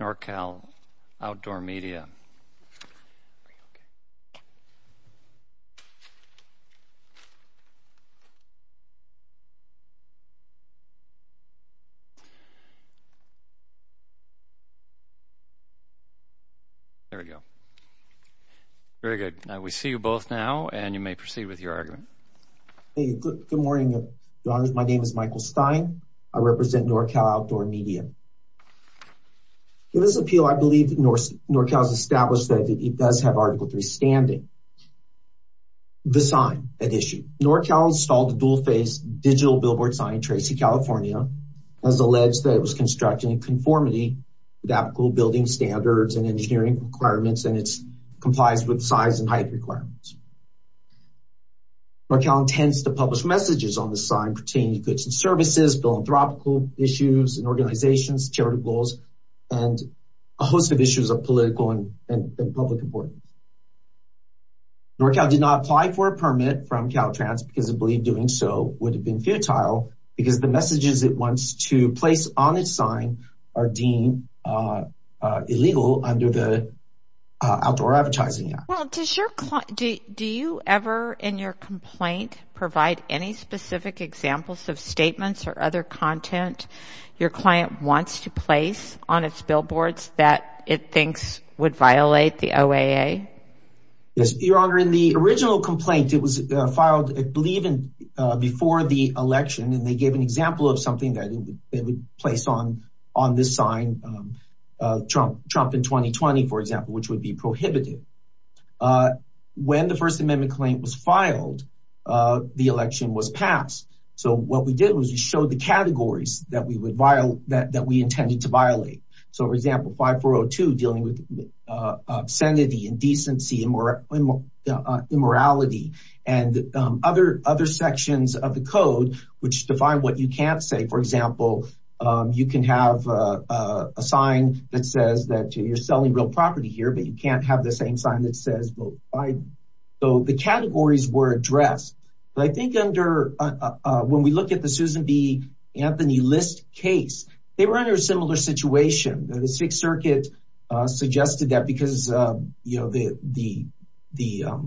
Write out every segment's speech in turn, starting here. NorCal Outdoor Media. There we go. Very good. Now we see you both now and you may proceed with your argument. Good morning. My name is Michael Stein. I represent NorCal Outdoor Media. In this appeal, I believe that NorCal has established that it does have Article 3 standing. The sign at issue. NorCal installed the dual-face digital billboard sign, Tracy, California, has alleged that it was constructed in conformity with applicable building standards and engineering requirements, and it complies with size and height requirements. NorCal intends to publish messages on the sign pertaining to goods and services, philanthropical issues and organizations, charitable goals, and a host of issues of political and public importance. NorCal did not apply for a permit from Caltrans because it believed doing so would have been futile because the messages it wants to place on its sign are deemed illegal under the Outdoor Advertising Act. Well, does your client, do you ever, in your complaint, provide any specific examples of statements or other content your client wants to place on its billboards that it thinks would violate the OAA? Yes, Your Honor. In the original complaint, it was filed, I believe, before the election, and they gave an example of something that it would place on this sign, Trump in 2020, for example, which would be prohibited. When the First Amendment claim was filed, the election was passed. So what we did was we showed the categories that we intended to violate. So, for example, 5402 dealing with obscenity, indecency, immorality, and other sections of the code which define what you can't say. For example, you can have a sign that says that you're selling real property here, but you can't have the same sign that says vote Biden. So the categories were addressed. But I think under, when we look at the Susan B. Anthony List case, they were under a similar situation. The Sixth Circuit suggested that because, you know, the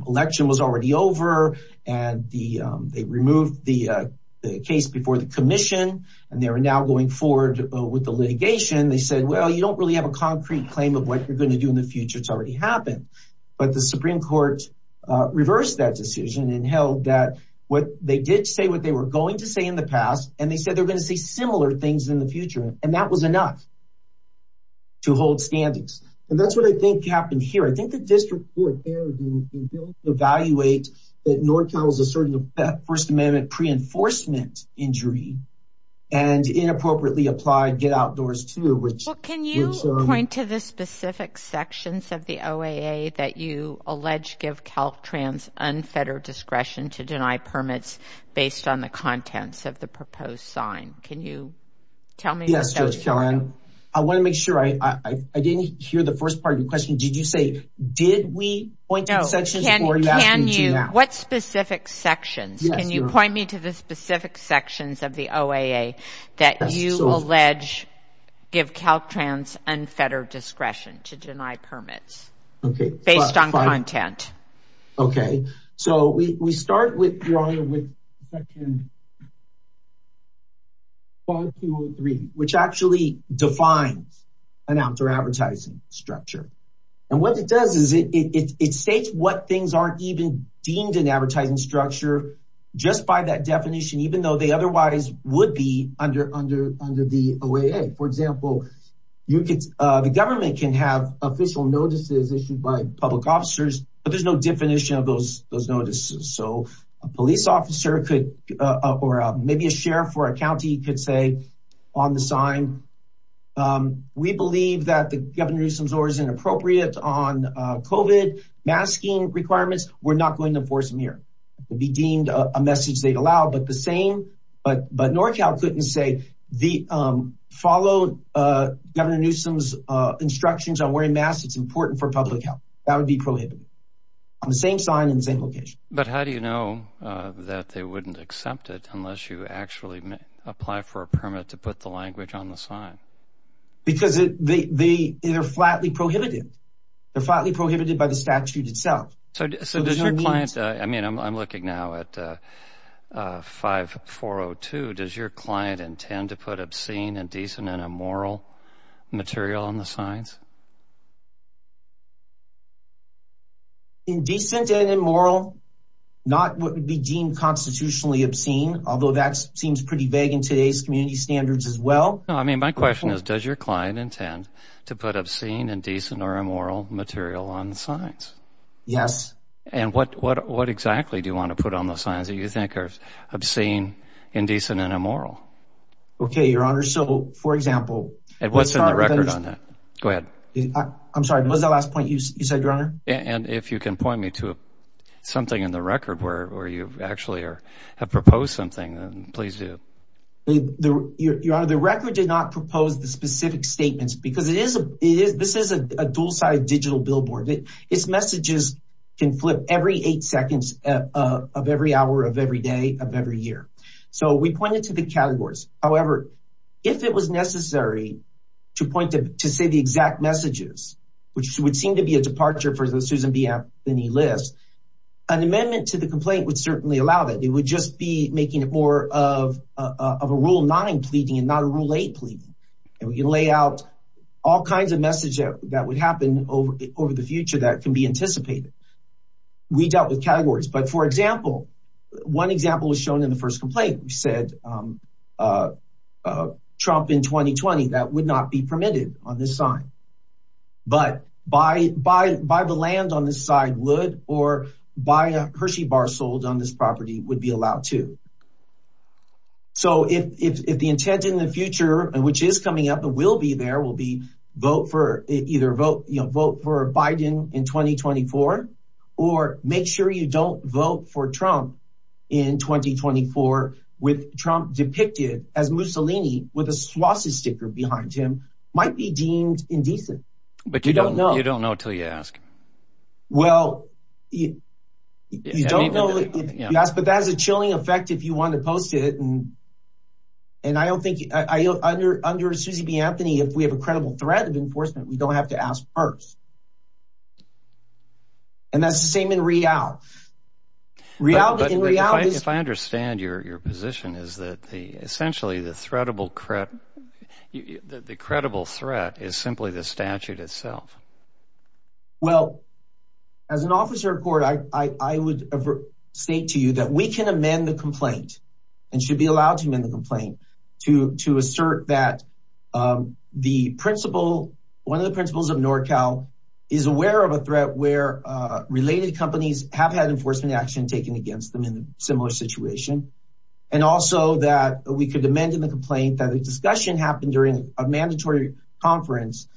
election was already over, and they removed the case before the commission, and they were now going forward with the litigation. They said, well, you don't really have a concrete claim of what you're going to do in the future. It's already happened. But the Supreme Court reversed that decision and held that what they did say, what they were going to say in the past, and they said they're going to say similar things in the future, and that was enough to hold standings. And that's what I think happened here. I think the district court there was able to evaluate that North Carolina was asserting a First Amendment pre-enforcement injury, and inappropriately applied Get Outdoors Too. Well, can you point to the specific sections of the OAA that you allege give Caltrans unfettered discretion to deny permits based on the contents of the proposed sign? Can you tell me? Yes, Judge Kellyanne. I want to make sure I didn't hear the first part of your question. Did you say, did we point to sections before you asked me to now? What specific sections? Can you point me to the specific sections of the OAA that you allege give Caltrans unfettered discretion to deny permits based on content? Okay, so we start with Section 5203, which actually defines an outdoor advertising structure. And what it does is it states what things aren't even deemed an advertising structure just by that definition, even though they otherwise would be under the OAA. For example, the government can have official notices issued by public officers, but there's no definition of those notices. So a police officer could, or maybe a sheriff or a county could say on the sign, we believe that the Governor Newsom's orders are inappropriate on COVID masking requirements. We're not going to enforce them here. It would be deemed a message they'd allow, but the same, but NorCal couldn't say follow Governor Newsom's instructions on wearing masks. It's important for public health. That would be prohibited on the same sign in the same location. But how do you know that they wouldn't accept it unless you actually apply for a permit to put the language on the sign? Because they are flatly prohibited. They're flatly prohibited by the statute itself. So does your client, I mean, I'm looking now at 5402. Does your client intend to put obscene, indecent, and immoral material on the signs? Indecent and immoral, not what would be deemed constitutionally obscene, although that seems pretty vague in today's community standards as well. No, I mean, my question is, does your client intend to put obscene, indecent, or immoral material on the signs? Yes. And what exactly do you want to put on the signs that you think are obscene, indecent, and immoral? Okay, Your Honor. So, for example, And what's in the record on that? Go ahead. I'm sorry, what was that last point you said, Your Honor? And if you can point me to something in the record where you actually have proposed something, then please do. Your Honor, the record did not propose the specific statements because this is a dual-sided digital billboard. Its messages can flip every eight seconds of every hour of every day of every year. So we pointed to the categories. However, if it was necessary to say the exact messages, which would seem to be a departure for the Susan B. Anthony list, an amendment to the complaint would certainly allow that. It would just be making it more of a Rule 9 pleading and not a Rule 8 pleading. And we can lay out all kinds of messages that would happen over the future that can be anticipated. We dealt with categories. But, for example, one example was shown in the first complaint. We said Trump in 2020. That would not be permitted on this side. But buy the land on this side would or buy a Hershey bar sold on this property would be allowed to. So if the intent in the future, which is coming up and will be there, will be either vote for Biden in 2024 or make sure you don't vote for Trump in 2024 with Trump depicted as Mussolini with a swastika behind him might be deemed indecent. But you don't know. You don't know until you ask. Well, you don't know if you ask, but that has a chilling effect if you want to post it. And I don't think I under under Susie B. Anthony, if we have a credible threat of enforcement, we don't have to ask first. And that's the same in reality. If I understand your position is that the essentially the credible threat is simply the statute itself. Well, as an officer of court, I would state to you that we can amend the complaint and should be allowed to amend the complaint to to assert that the principle. One of the principles of NorCal is aware of a threat where related companies have had enforcement action taken against them in a similar situation. And also that we could amend in the complaint that the discussion happened during a mandatory conference.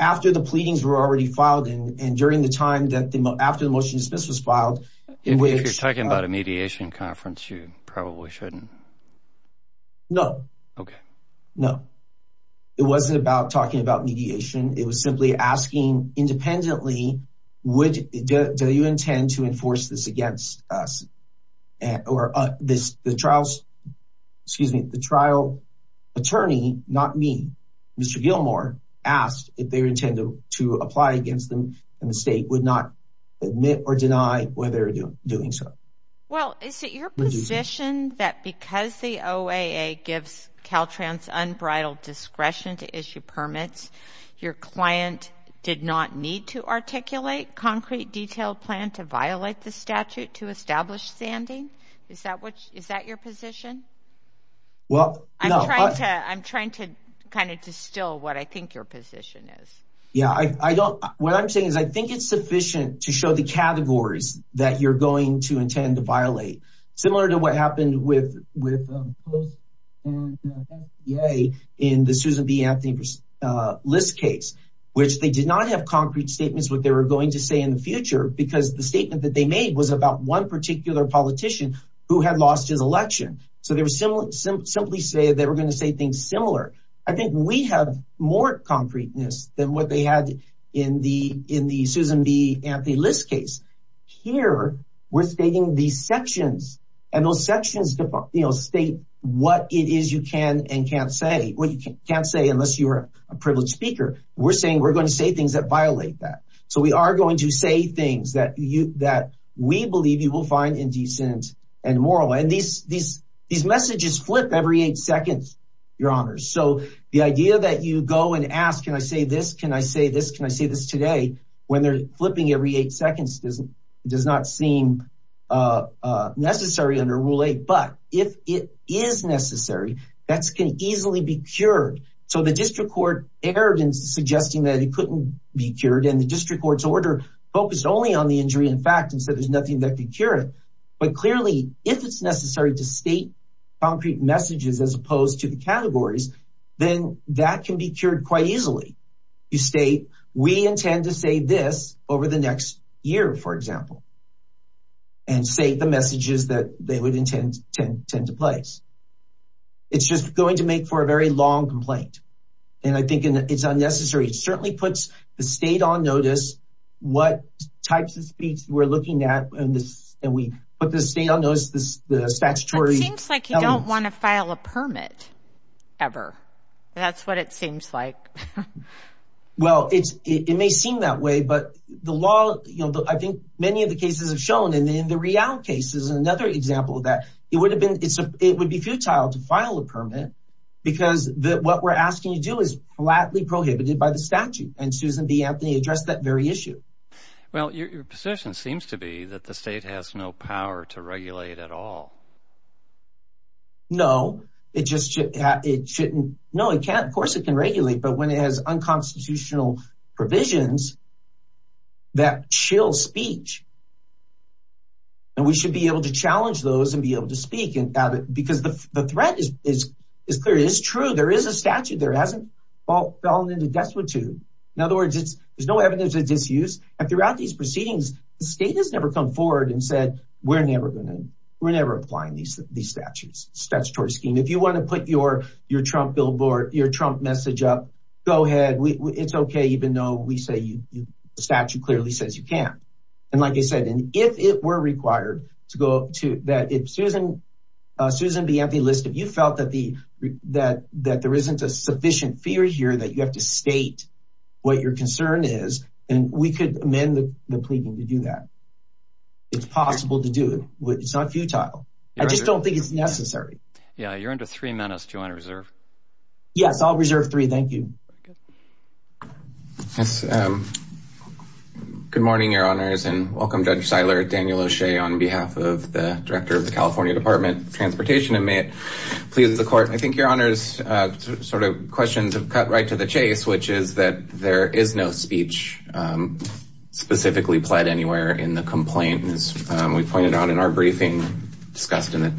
After the pleadings were already filed in and during the time that after the motion dismiss was filed in which you're talking about a mediation conference, you probably shouldn't. No, no, it wasn't about talking about mediation. It was simply asking independently, would you intend to enforce this against us or this the trials? Excuse me, the trial attorney, not me. Mr. Gilmore asked if they intend to apply against them. The state would not admit or deny whether they're doing so. Well, is it your position that because the OAA gives Caltrans unbridled discretion to issue permits, your client did not need to articulate concrete detailed plan to violate the statute to establish standing? Is that what is that your position? Well, I'm trying to kind of distill what I think your position is. Yeah, I don't what I'm saying is I think it's sufficient to show the categories that you're going to intend to violate. Similar to what happened with with yay in the Susan B. Anthony List case, which they did not have concrete statements what they were going to say in the future because the statement that they made was about one particular politician who had lost his election. So there was similar simply say they were going to say things similar. I think we have more concreteness than what they had in the in the Susan B. Anthony List case. Here we're stating these sections and those sections state what it is you can and can't say what you can't say unless you're a privileged speaker. We're saying we're going to say things that violate that. So we are going to say things that you that we believe you will find indecent and moral. These messages flip every eight seconds, your honor. So the idea that you go and ask, can I say this? Can I say this? Can I say this today? When they're flipping every eight seconds doesn't does not seem necessary under rule eight. But if it is necessary, that's going to easily be cured. So the district court erred in suggesting that it couldn't be cured. And the district court's order focused only on the injury. In fact, instead, there's nothing that could cure it. But clearly, if it's necessary to state concrete messages as opposed to the categories, then that can be cured quite easily. You state we intend to say this over the next year, for example. And say the messages that they would intend to place. It's just going to make for a very long complaint. And I think it's unnecessary. It certainly puts the state on notice what types of speech we're looking at. And we put the state on notice of the statutory elements. It seems like you don't want to file a permit ever. That's what it seems like. Well, it may seem that way. But the law, I think many of the cases have shown. And in the Rialt case is another example of that. It would be futile to file a permit. Because what we're asking you to do is flatly prohibited by the statute. And Susan B. Anthony addressed that very issue. Well, your position seems to be that the state has no power to regulate at all. No. It just shouldn't. No, it can't. Of course it can regulate. But when it has unconstitutional provisions that chill speech. And we should be able to challenge those and be able to speak. Because the threat is clear. It is true. There is a statute. There hasn't fallen into despotism. In other words, there's no evidence of disuse. And throughout these proceedings, the state has never come forward and said, we're never going to. We're never applying these statutes. Statutory scheme. If you want to put your Trump billboard, your Trump message up, go ahead. It's okay. Even though we say the statute clearly says you can't. And like I said, if it were required. Susan, if you felt that there isn't a sufficient fear here, that you have to state what your concern is. And we could amend the pleading to do that. It's possible to do it. It's not futile. I just don't think it's necessary. Yeah. You're under three minutes. Do you want to reserve? Yes, I'll reserve three. Thank you. Good morning, your honors. And welcome Judge Seiler, Daniel O'Shea, on behalf of the director of the California Department of Transportation. And may it please the court. I think your honors sort of questions have cut right to the chase, which is that there is no speech specifically pled anywhere in the complaint. And as we pointed out in our briefing, discussed in the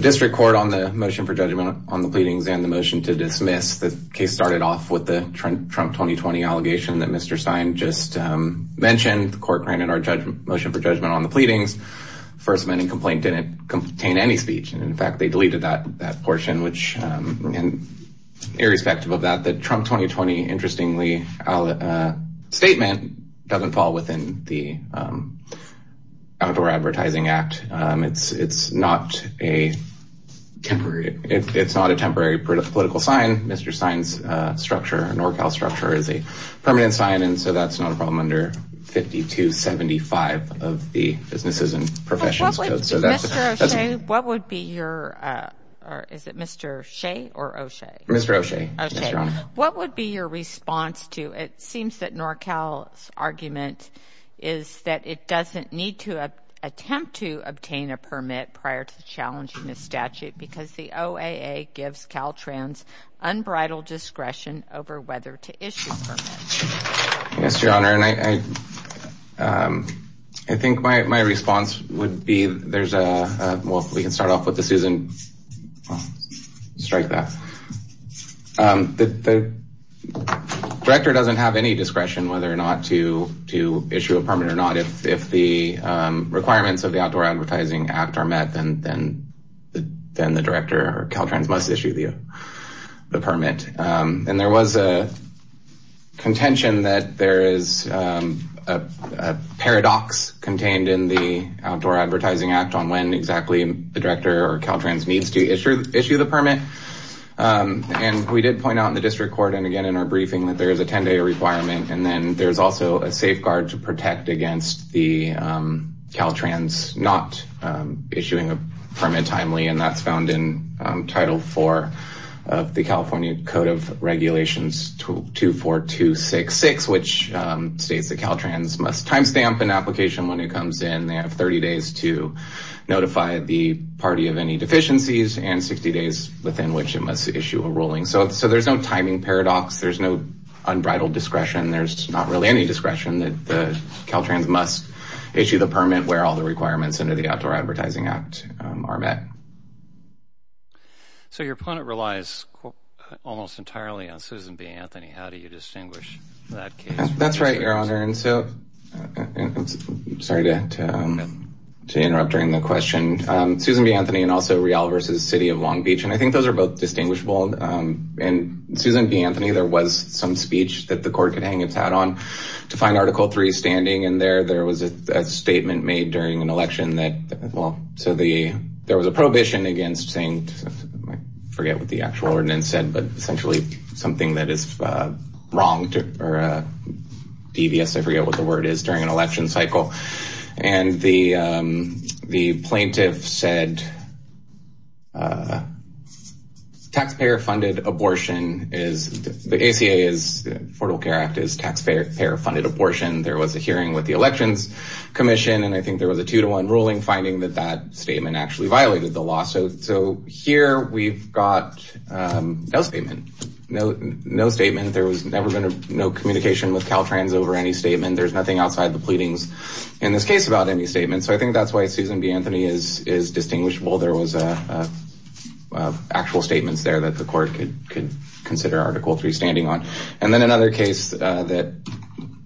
district court on the motion for judgment on the pleadings and the motion to dismiss, the case started off with the Trump 2020 allegation that Mr. Stein just mentioned. The court granted our motion for judgment on the pleadings. First amending complaint didn't contain any speech. And, in fact, they deleted that portion, which, irrespective of that, the Trump 2020, interestingly, statement doesn't fall within the Outdoor Advertising Act. It's not a temporary political sign. Mr. Stein's structure, NorCal's structure, is a permanent sign. And so that's not a problem under 5275 of the Businesses and Professions Code. Mr. O'Shea, what would be your response to it? It seems that NorCal's argument is that it doesn't need to attempt to obtain a permit prior to challenging the statute because the OAA gives Caltrans unbridled discretion over whether to issue a permit. Yes, Your Honor. And I think my response would be there's a – well, if we can start off with the Susan – strike that. The director doesn't have any discretion whether or not to issue a permit or not. If the requirements of the Outdoor Advertising Act are met, then the director or Caltrans must issue the permit. And there was a contention that there is a paradox contained in the Outdoor Advertising Act on when exactly the director or Caltrans needs to issue the permit. And we did point out in the district court and again in our briefing that there is a 10-day requirement, and then there's also a safeguard to protect against the Caltrans not issuing a permit timely, and that's found in Title IV of the California Code of Regulations 24266, which states that Caltrans must timestamp an application when it comes in. They have 30 days to notify the party of any deficiencies and 60 days within which it must issue a ruling. So there's no timing paradox. There's no unbridled discretion. There's not really any discretion that the Caltrans must issue the permit where all the requirements under the Outdoor Advertising Act are met. So your opponent relies almost entirely on Susan B. Anthony. How do you distinguish that case? That's right, Your Honor. I'm sorry to interrupt during the question. Susan B. Anthony and also Real v. City of Long Beach, and I think those are both distinguishable. In Susan B. Anthony, there was some speech that the court could hang its hat on. To find Article III standing in there, there was a statement made during an election that, well, so there was a prohibition against saying, I forget what the actual ordinance said, but essentially something that is wrong or devious, I forget what the word is, during an election cycle. And the plaintiff said taxpayer-funded abortion is, the ACA is, the Affordable Care Act is taxpayer-funded abortion. There was a hearing with the Elections Commission, and I think there was a two-to-one ruling finding that that statement actually violated the law. So here we've got no statement. No statement. There has never been no communication with Caltrans over any statement. There's nothing outside the pleadings in this case about any statement. So I think that's why Susan B. Anthony is distinguishable. There was actual statements there that the court could consider Article III standing on. And then another case that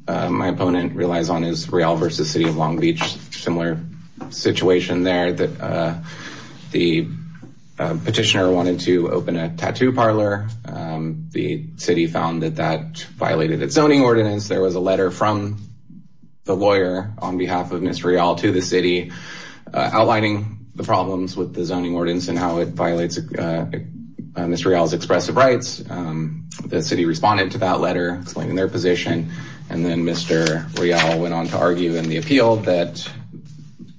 my opponent relies on is Real v. City of Long Beach, similar situation there. The petitioner wanted to open a tattoo parlor. The city found that that violated its zoning ordinance. There was a letter from the lawyer on behalf of Ms. Real explaining the zoning ordinance and how it violates Ms. Real's expressive rights. The city responded to that letter explaining their position. And then Mr. Real went on to argue in the appeal that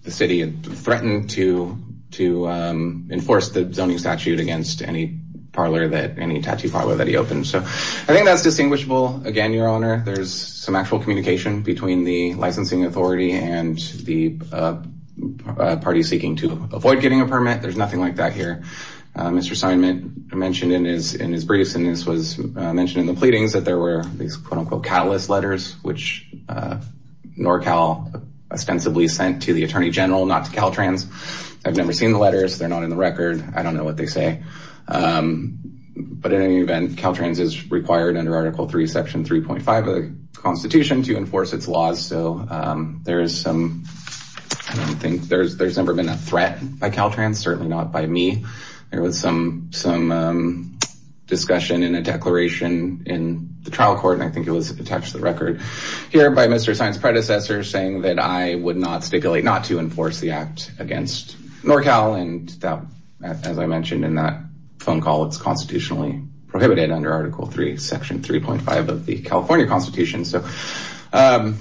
the city had threatened to enforce the zoning statute against any parlor that, any tattoo parlor that he opened. So I think that's distinguishable. Again, Your Honor, there's some actual communication between the licensing authority and the party seeking to avoid getting a permit. There's nothing like that here. Mr. Seidman mentioned in his briefs, and this was mentioned in the pleadings, that there were these quote-unquote catalyst letters, which NorCal ostensibly sent to the Attorney General, not to Caltrans. I've never seen the letters. They're not in the record. I don't know what they say. But in any event, Caltrans is required under Article III, Section 3.5 of the Constitution, to enforce its laws. I don't think there's ever been a threat by Caltrans. Certainly not by me. There was some discussion in a declaration in the trial court. I think it was attached to the record here by Mr. Seidman's predecessor saying that I would not stipulate not to enforce the act against NorCal. And as I mentioned in that phone call, it's constitutionally prohibited under Article III, Section 3.5 of the California Constitution. I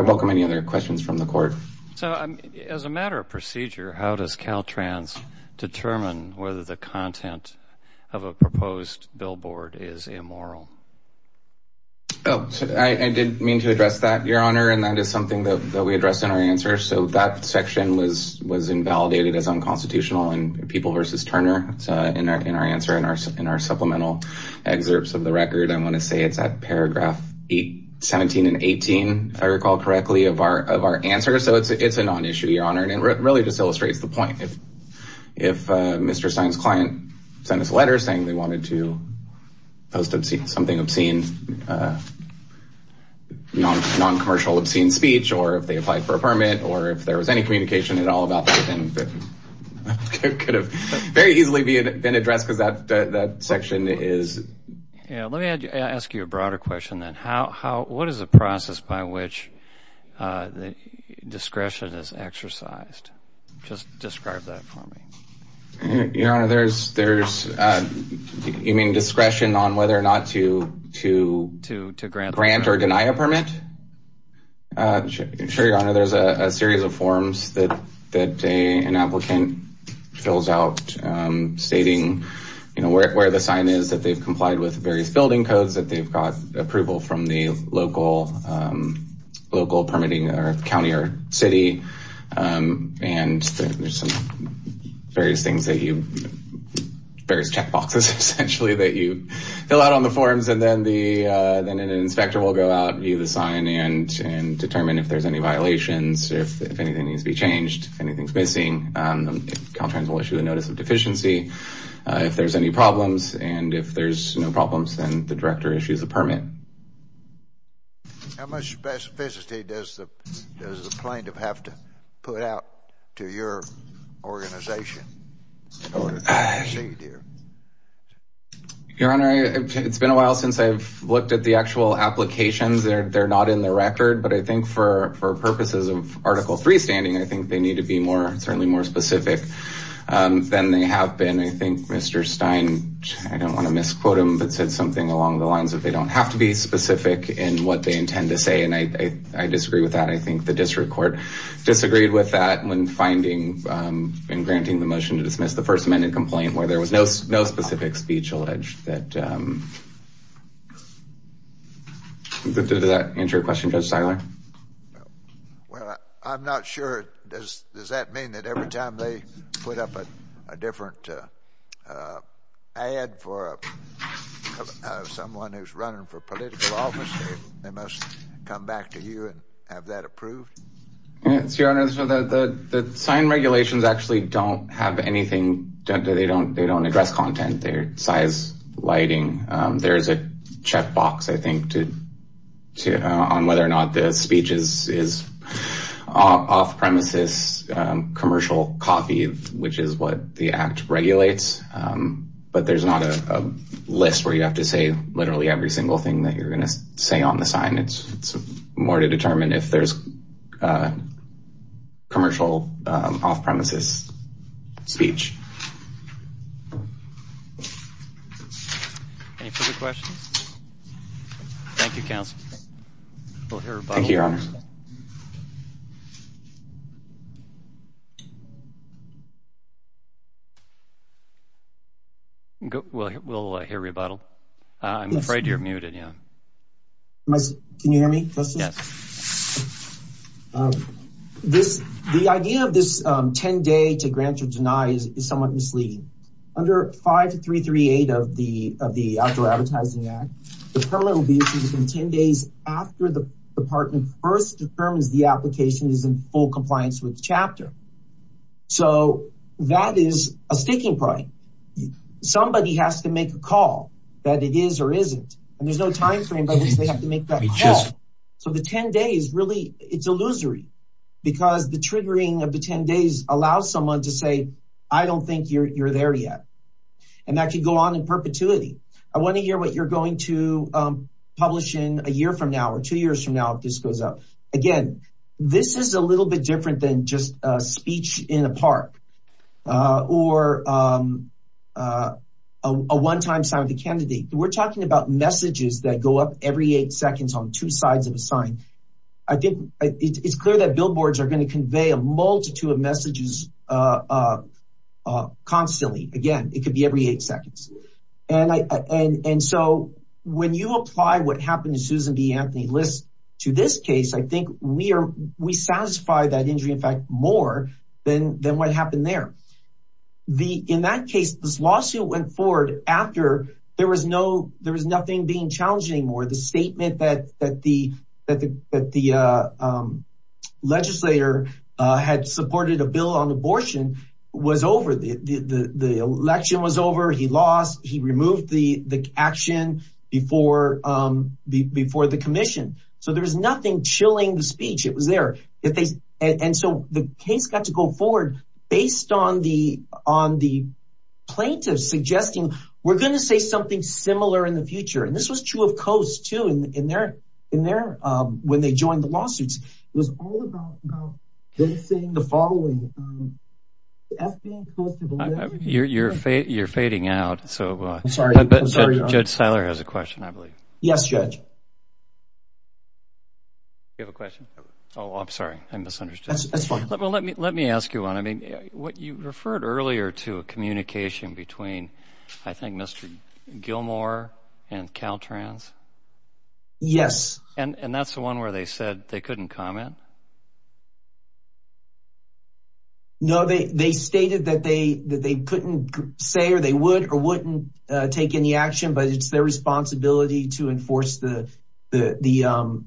welcome any other questions from the court. So as a matter of procedure, how does Caltrans determine whether the content of a proposed billboard is immoral? I did mean to address that, Your Honor, and that is something that we address in our answers. So that section was invalidated as unconstitutional in People v. Turner in our answer in our supplemental excerpts of the record. I want to say it's at paragraph 17 and 18, if I recall correctly, of our answer. So it's a non-issue, Your Honor, and it really just illustrates the point. If Mr. Stein's client sent us a letter saying they wanted to post something obscene, non-commercial obscene speech, or if they applied for a permit, or if there was any communication at all about that, it could have very easily been addressed because that section is. Let me ask you a broader question then. What is the process by which discretion is exercised? Just describe that for me. Your Honor, there's, you mean, I'm sure, Your Honor, there's a series of forms that an applicant fills out stating, you know, where the sign is that they've complied with various building codes, that they've got approval from the local permitting or county or city, and there's some various things that you, various checkboxes, essentially, that you fill out on the forms, and then an inspector will go out and view the sign and determine if there's any violations, if anything needs to be changed, if anything's missing. Caltrans will issue a notice of deficiency if there's any problems, and if there's no problems, then the director issues a permit. How much specificity does the plaintiff have to put out to your organization in order to proceed here? Your Honor, it's been a while since I've looked at the actual applications. They're not in the record, but I think for purposes of Article 3 standing, I think they need to be certainly more specific than they have been. I think Mr. Stein, I don't want to misquote him, but said something along the lines of they don't have to be specific in what they intend to say, and I disagree with that. I think the district court disagreed with that when finding and granting the motion to dismiss the First Amendment complaint where there was no specific speech alleged. Does that answer your question, Judge Steiner? Well, I'm not sure. Does that mean that every time they put up a different ad for someone who's running for political office, they must come back to you and have that approved? Yes, Your Honor. The sign regulations actually don't have anything. They don't address content. They're size, lighting. There's a checkbox, I think, on whether or not the speech is off-premises, commercial coffee, which is what the Act regulates, but there's not a list where you have to say literally every single thing that you're going to say on the sign. It's more to determine if there's commercial off-premises speech. Any further questions? Thank you, counsel. Thank you, Your Honor. We'll hear rebuttal. I'm afraid you're muted. Can you hear me, Justice? Yes. The idea of this 10-day to grant or deny is somewhat misleading. Under 5338 of the Outdoor Advertising Act, the permit will be issued within 10 days after the department first determines the application is in full compliance with the chapter. So that is a sticking point. Somebody has to make a call, whether it is or isn't, and there's no time frame by which they have to make that call. So the 10 days, really, it's illusory because the triggering of the 10 days allows someone to say, I don't think you're there yet, and that could go on in perpetuity. I want to hear what you're going to publish in a year from now or two years from now if this goes up. Again, this is a little bit different than just a speech in a park or a one-time sign of the candidate. We're talking about messages that go up every eight seconds on two sides of a sign. It's clear that billboards are going to convey a multitude of messages constantly. Again, it could be every eight seconds. And so when you apply what happened to Susan B. Anthony List to this case, I think we satisfy that injury, in fact, more than what happened there. In that case, this lawsuit went forward after there was nothing being challenged anymore. The statement that the legislator had supported a bill on abortion was over. The election was over. He lost. He removed the action before the commission. So there was nothing chilling the speech. It was there. So the case got to go forward based on the plaintiffs suggesting, we're going to say something similar in the future. And this was true of Coase, too, when they joined the lawsuits. It was all about basing the following. You're fading out. I'm sorry. Judge Seiler has a question, I believe. Yes, Judge. Do you have a question? Oh, I'm sorry. I misunderstood. That's fine. Let me ask you one. You referred earlier to a communication between, I think, Mr. Gilmour and Caltrans. Yes. And that's the one where they said they couldn't comment? No. They stated that they couldn't say or they would or wouldn't take any action, but it's their responsibility to enforce the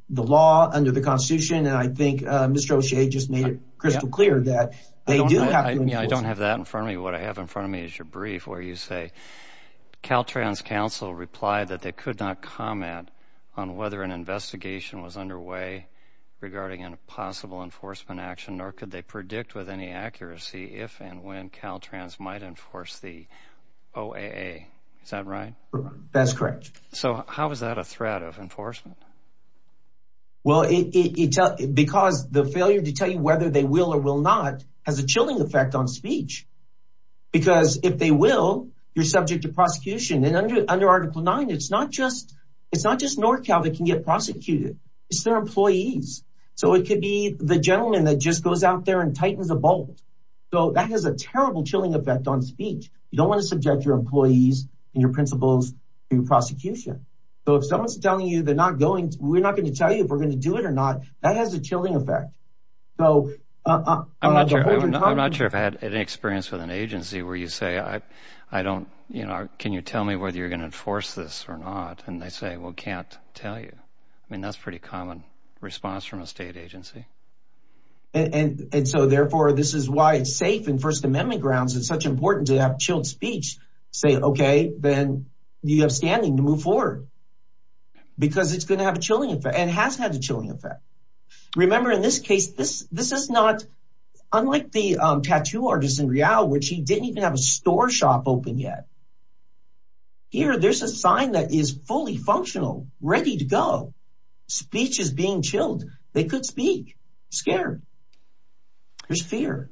law under the Constitution. And I think Mr. O'Shea just made it crystal clear that they do have to. I don't have that in front of me. What I have in front of me is your brief where you say, Caltrans counsel replied that they could not comment on whether an investigation was underway regarding a possible enforcement action, nor could they predict with any accuracy if and when Caltrans might enforce the OAA. Is that right? That's correct. So how is that a threat of enforcement? Well, because the failure to tell you whether they will or will not has a chilling effect on speech. Because if they will, you're subject to prosecution. And under article nine, it's not just North Cal that can get prosecuted. It's their employees. So it could be the gentleman that just goes out there and tightens a bolt. So that has a terrible chilling effect on speech. You don't want to subject your employees and your principals to prosecution. So if someone's telling you they're not going, we're not going to tell you if we're going to do it or not, that has a chilling effect. I'm not sure I've had any experience with an agency where you say, can you tell me whether you're going to enforce this or not? And they say, well, can't tell you. I mean, that's pretty common response from a state agency. And so therefore this is why it's safe in first amendment grounds. It's such important to have chilled speech, say, okay, then you have standing to move forward because it's going to have a chilling effect and has had a chilling effect. Remember in this case, this is not unlike the tattoo artist in real, which he didn't even have a store shop open yet. Here there's a sign that is fully functional, ready to go. Speech is being chilled. They could speak scared. There's fear.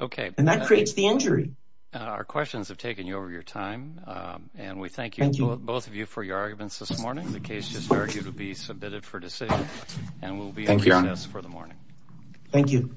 Okay. And that creates the injury. Our questions have taken you over your time. And we thank you both of you for your arguments this morning. The case just argued to be submitted for decision. And we'll be in for the morning. Thank you.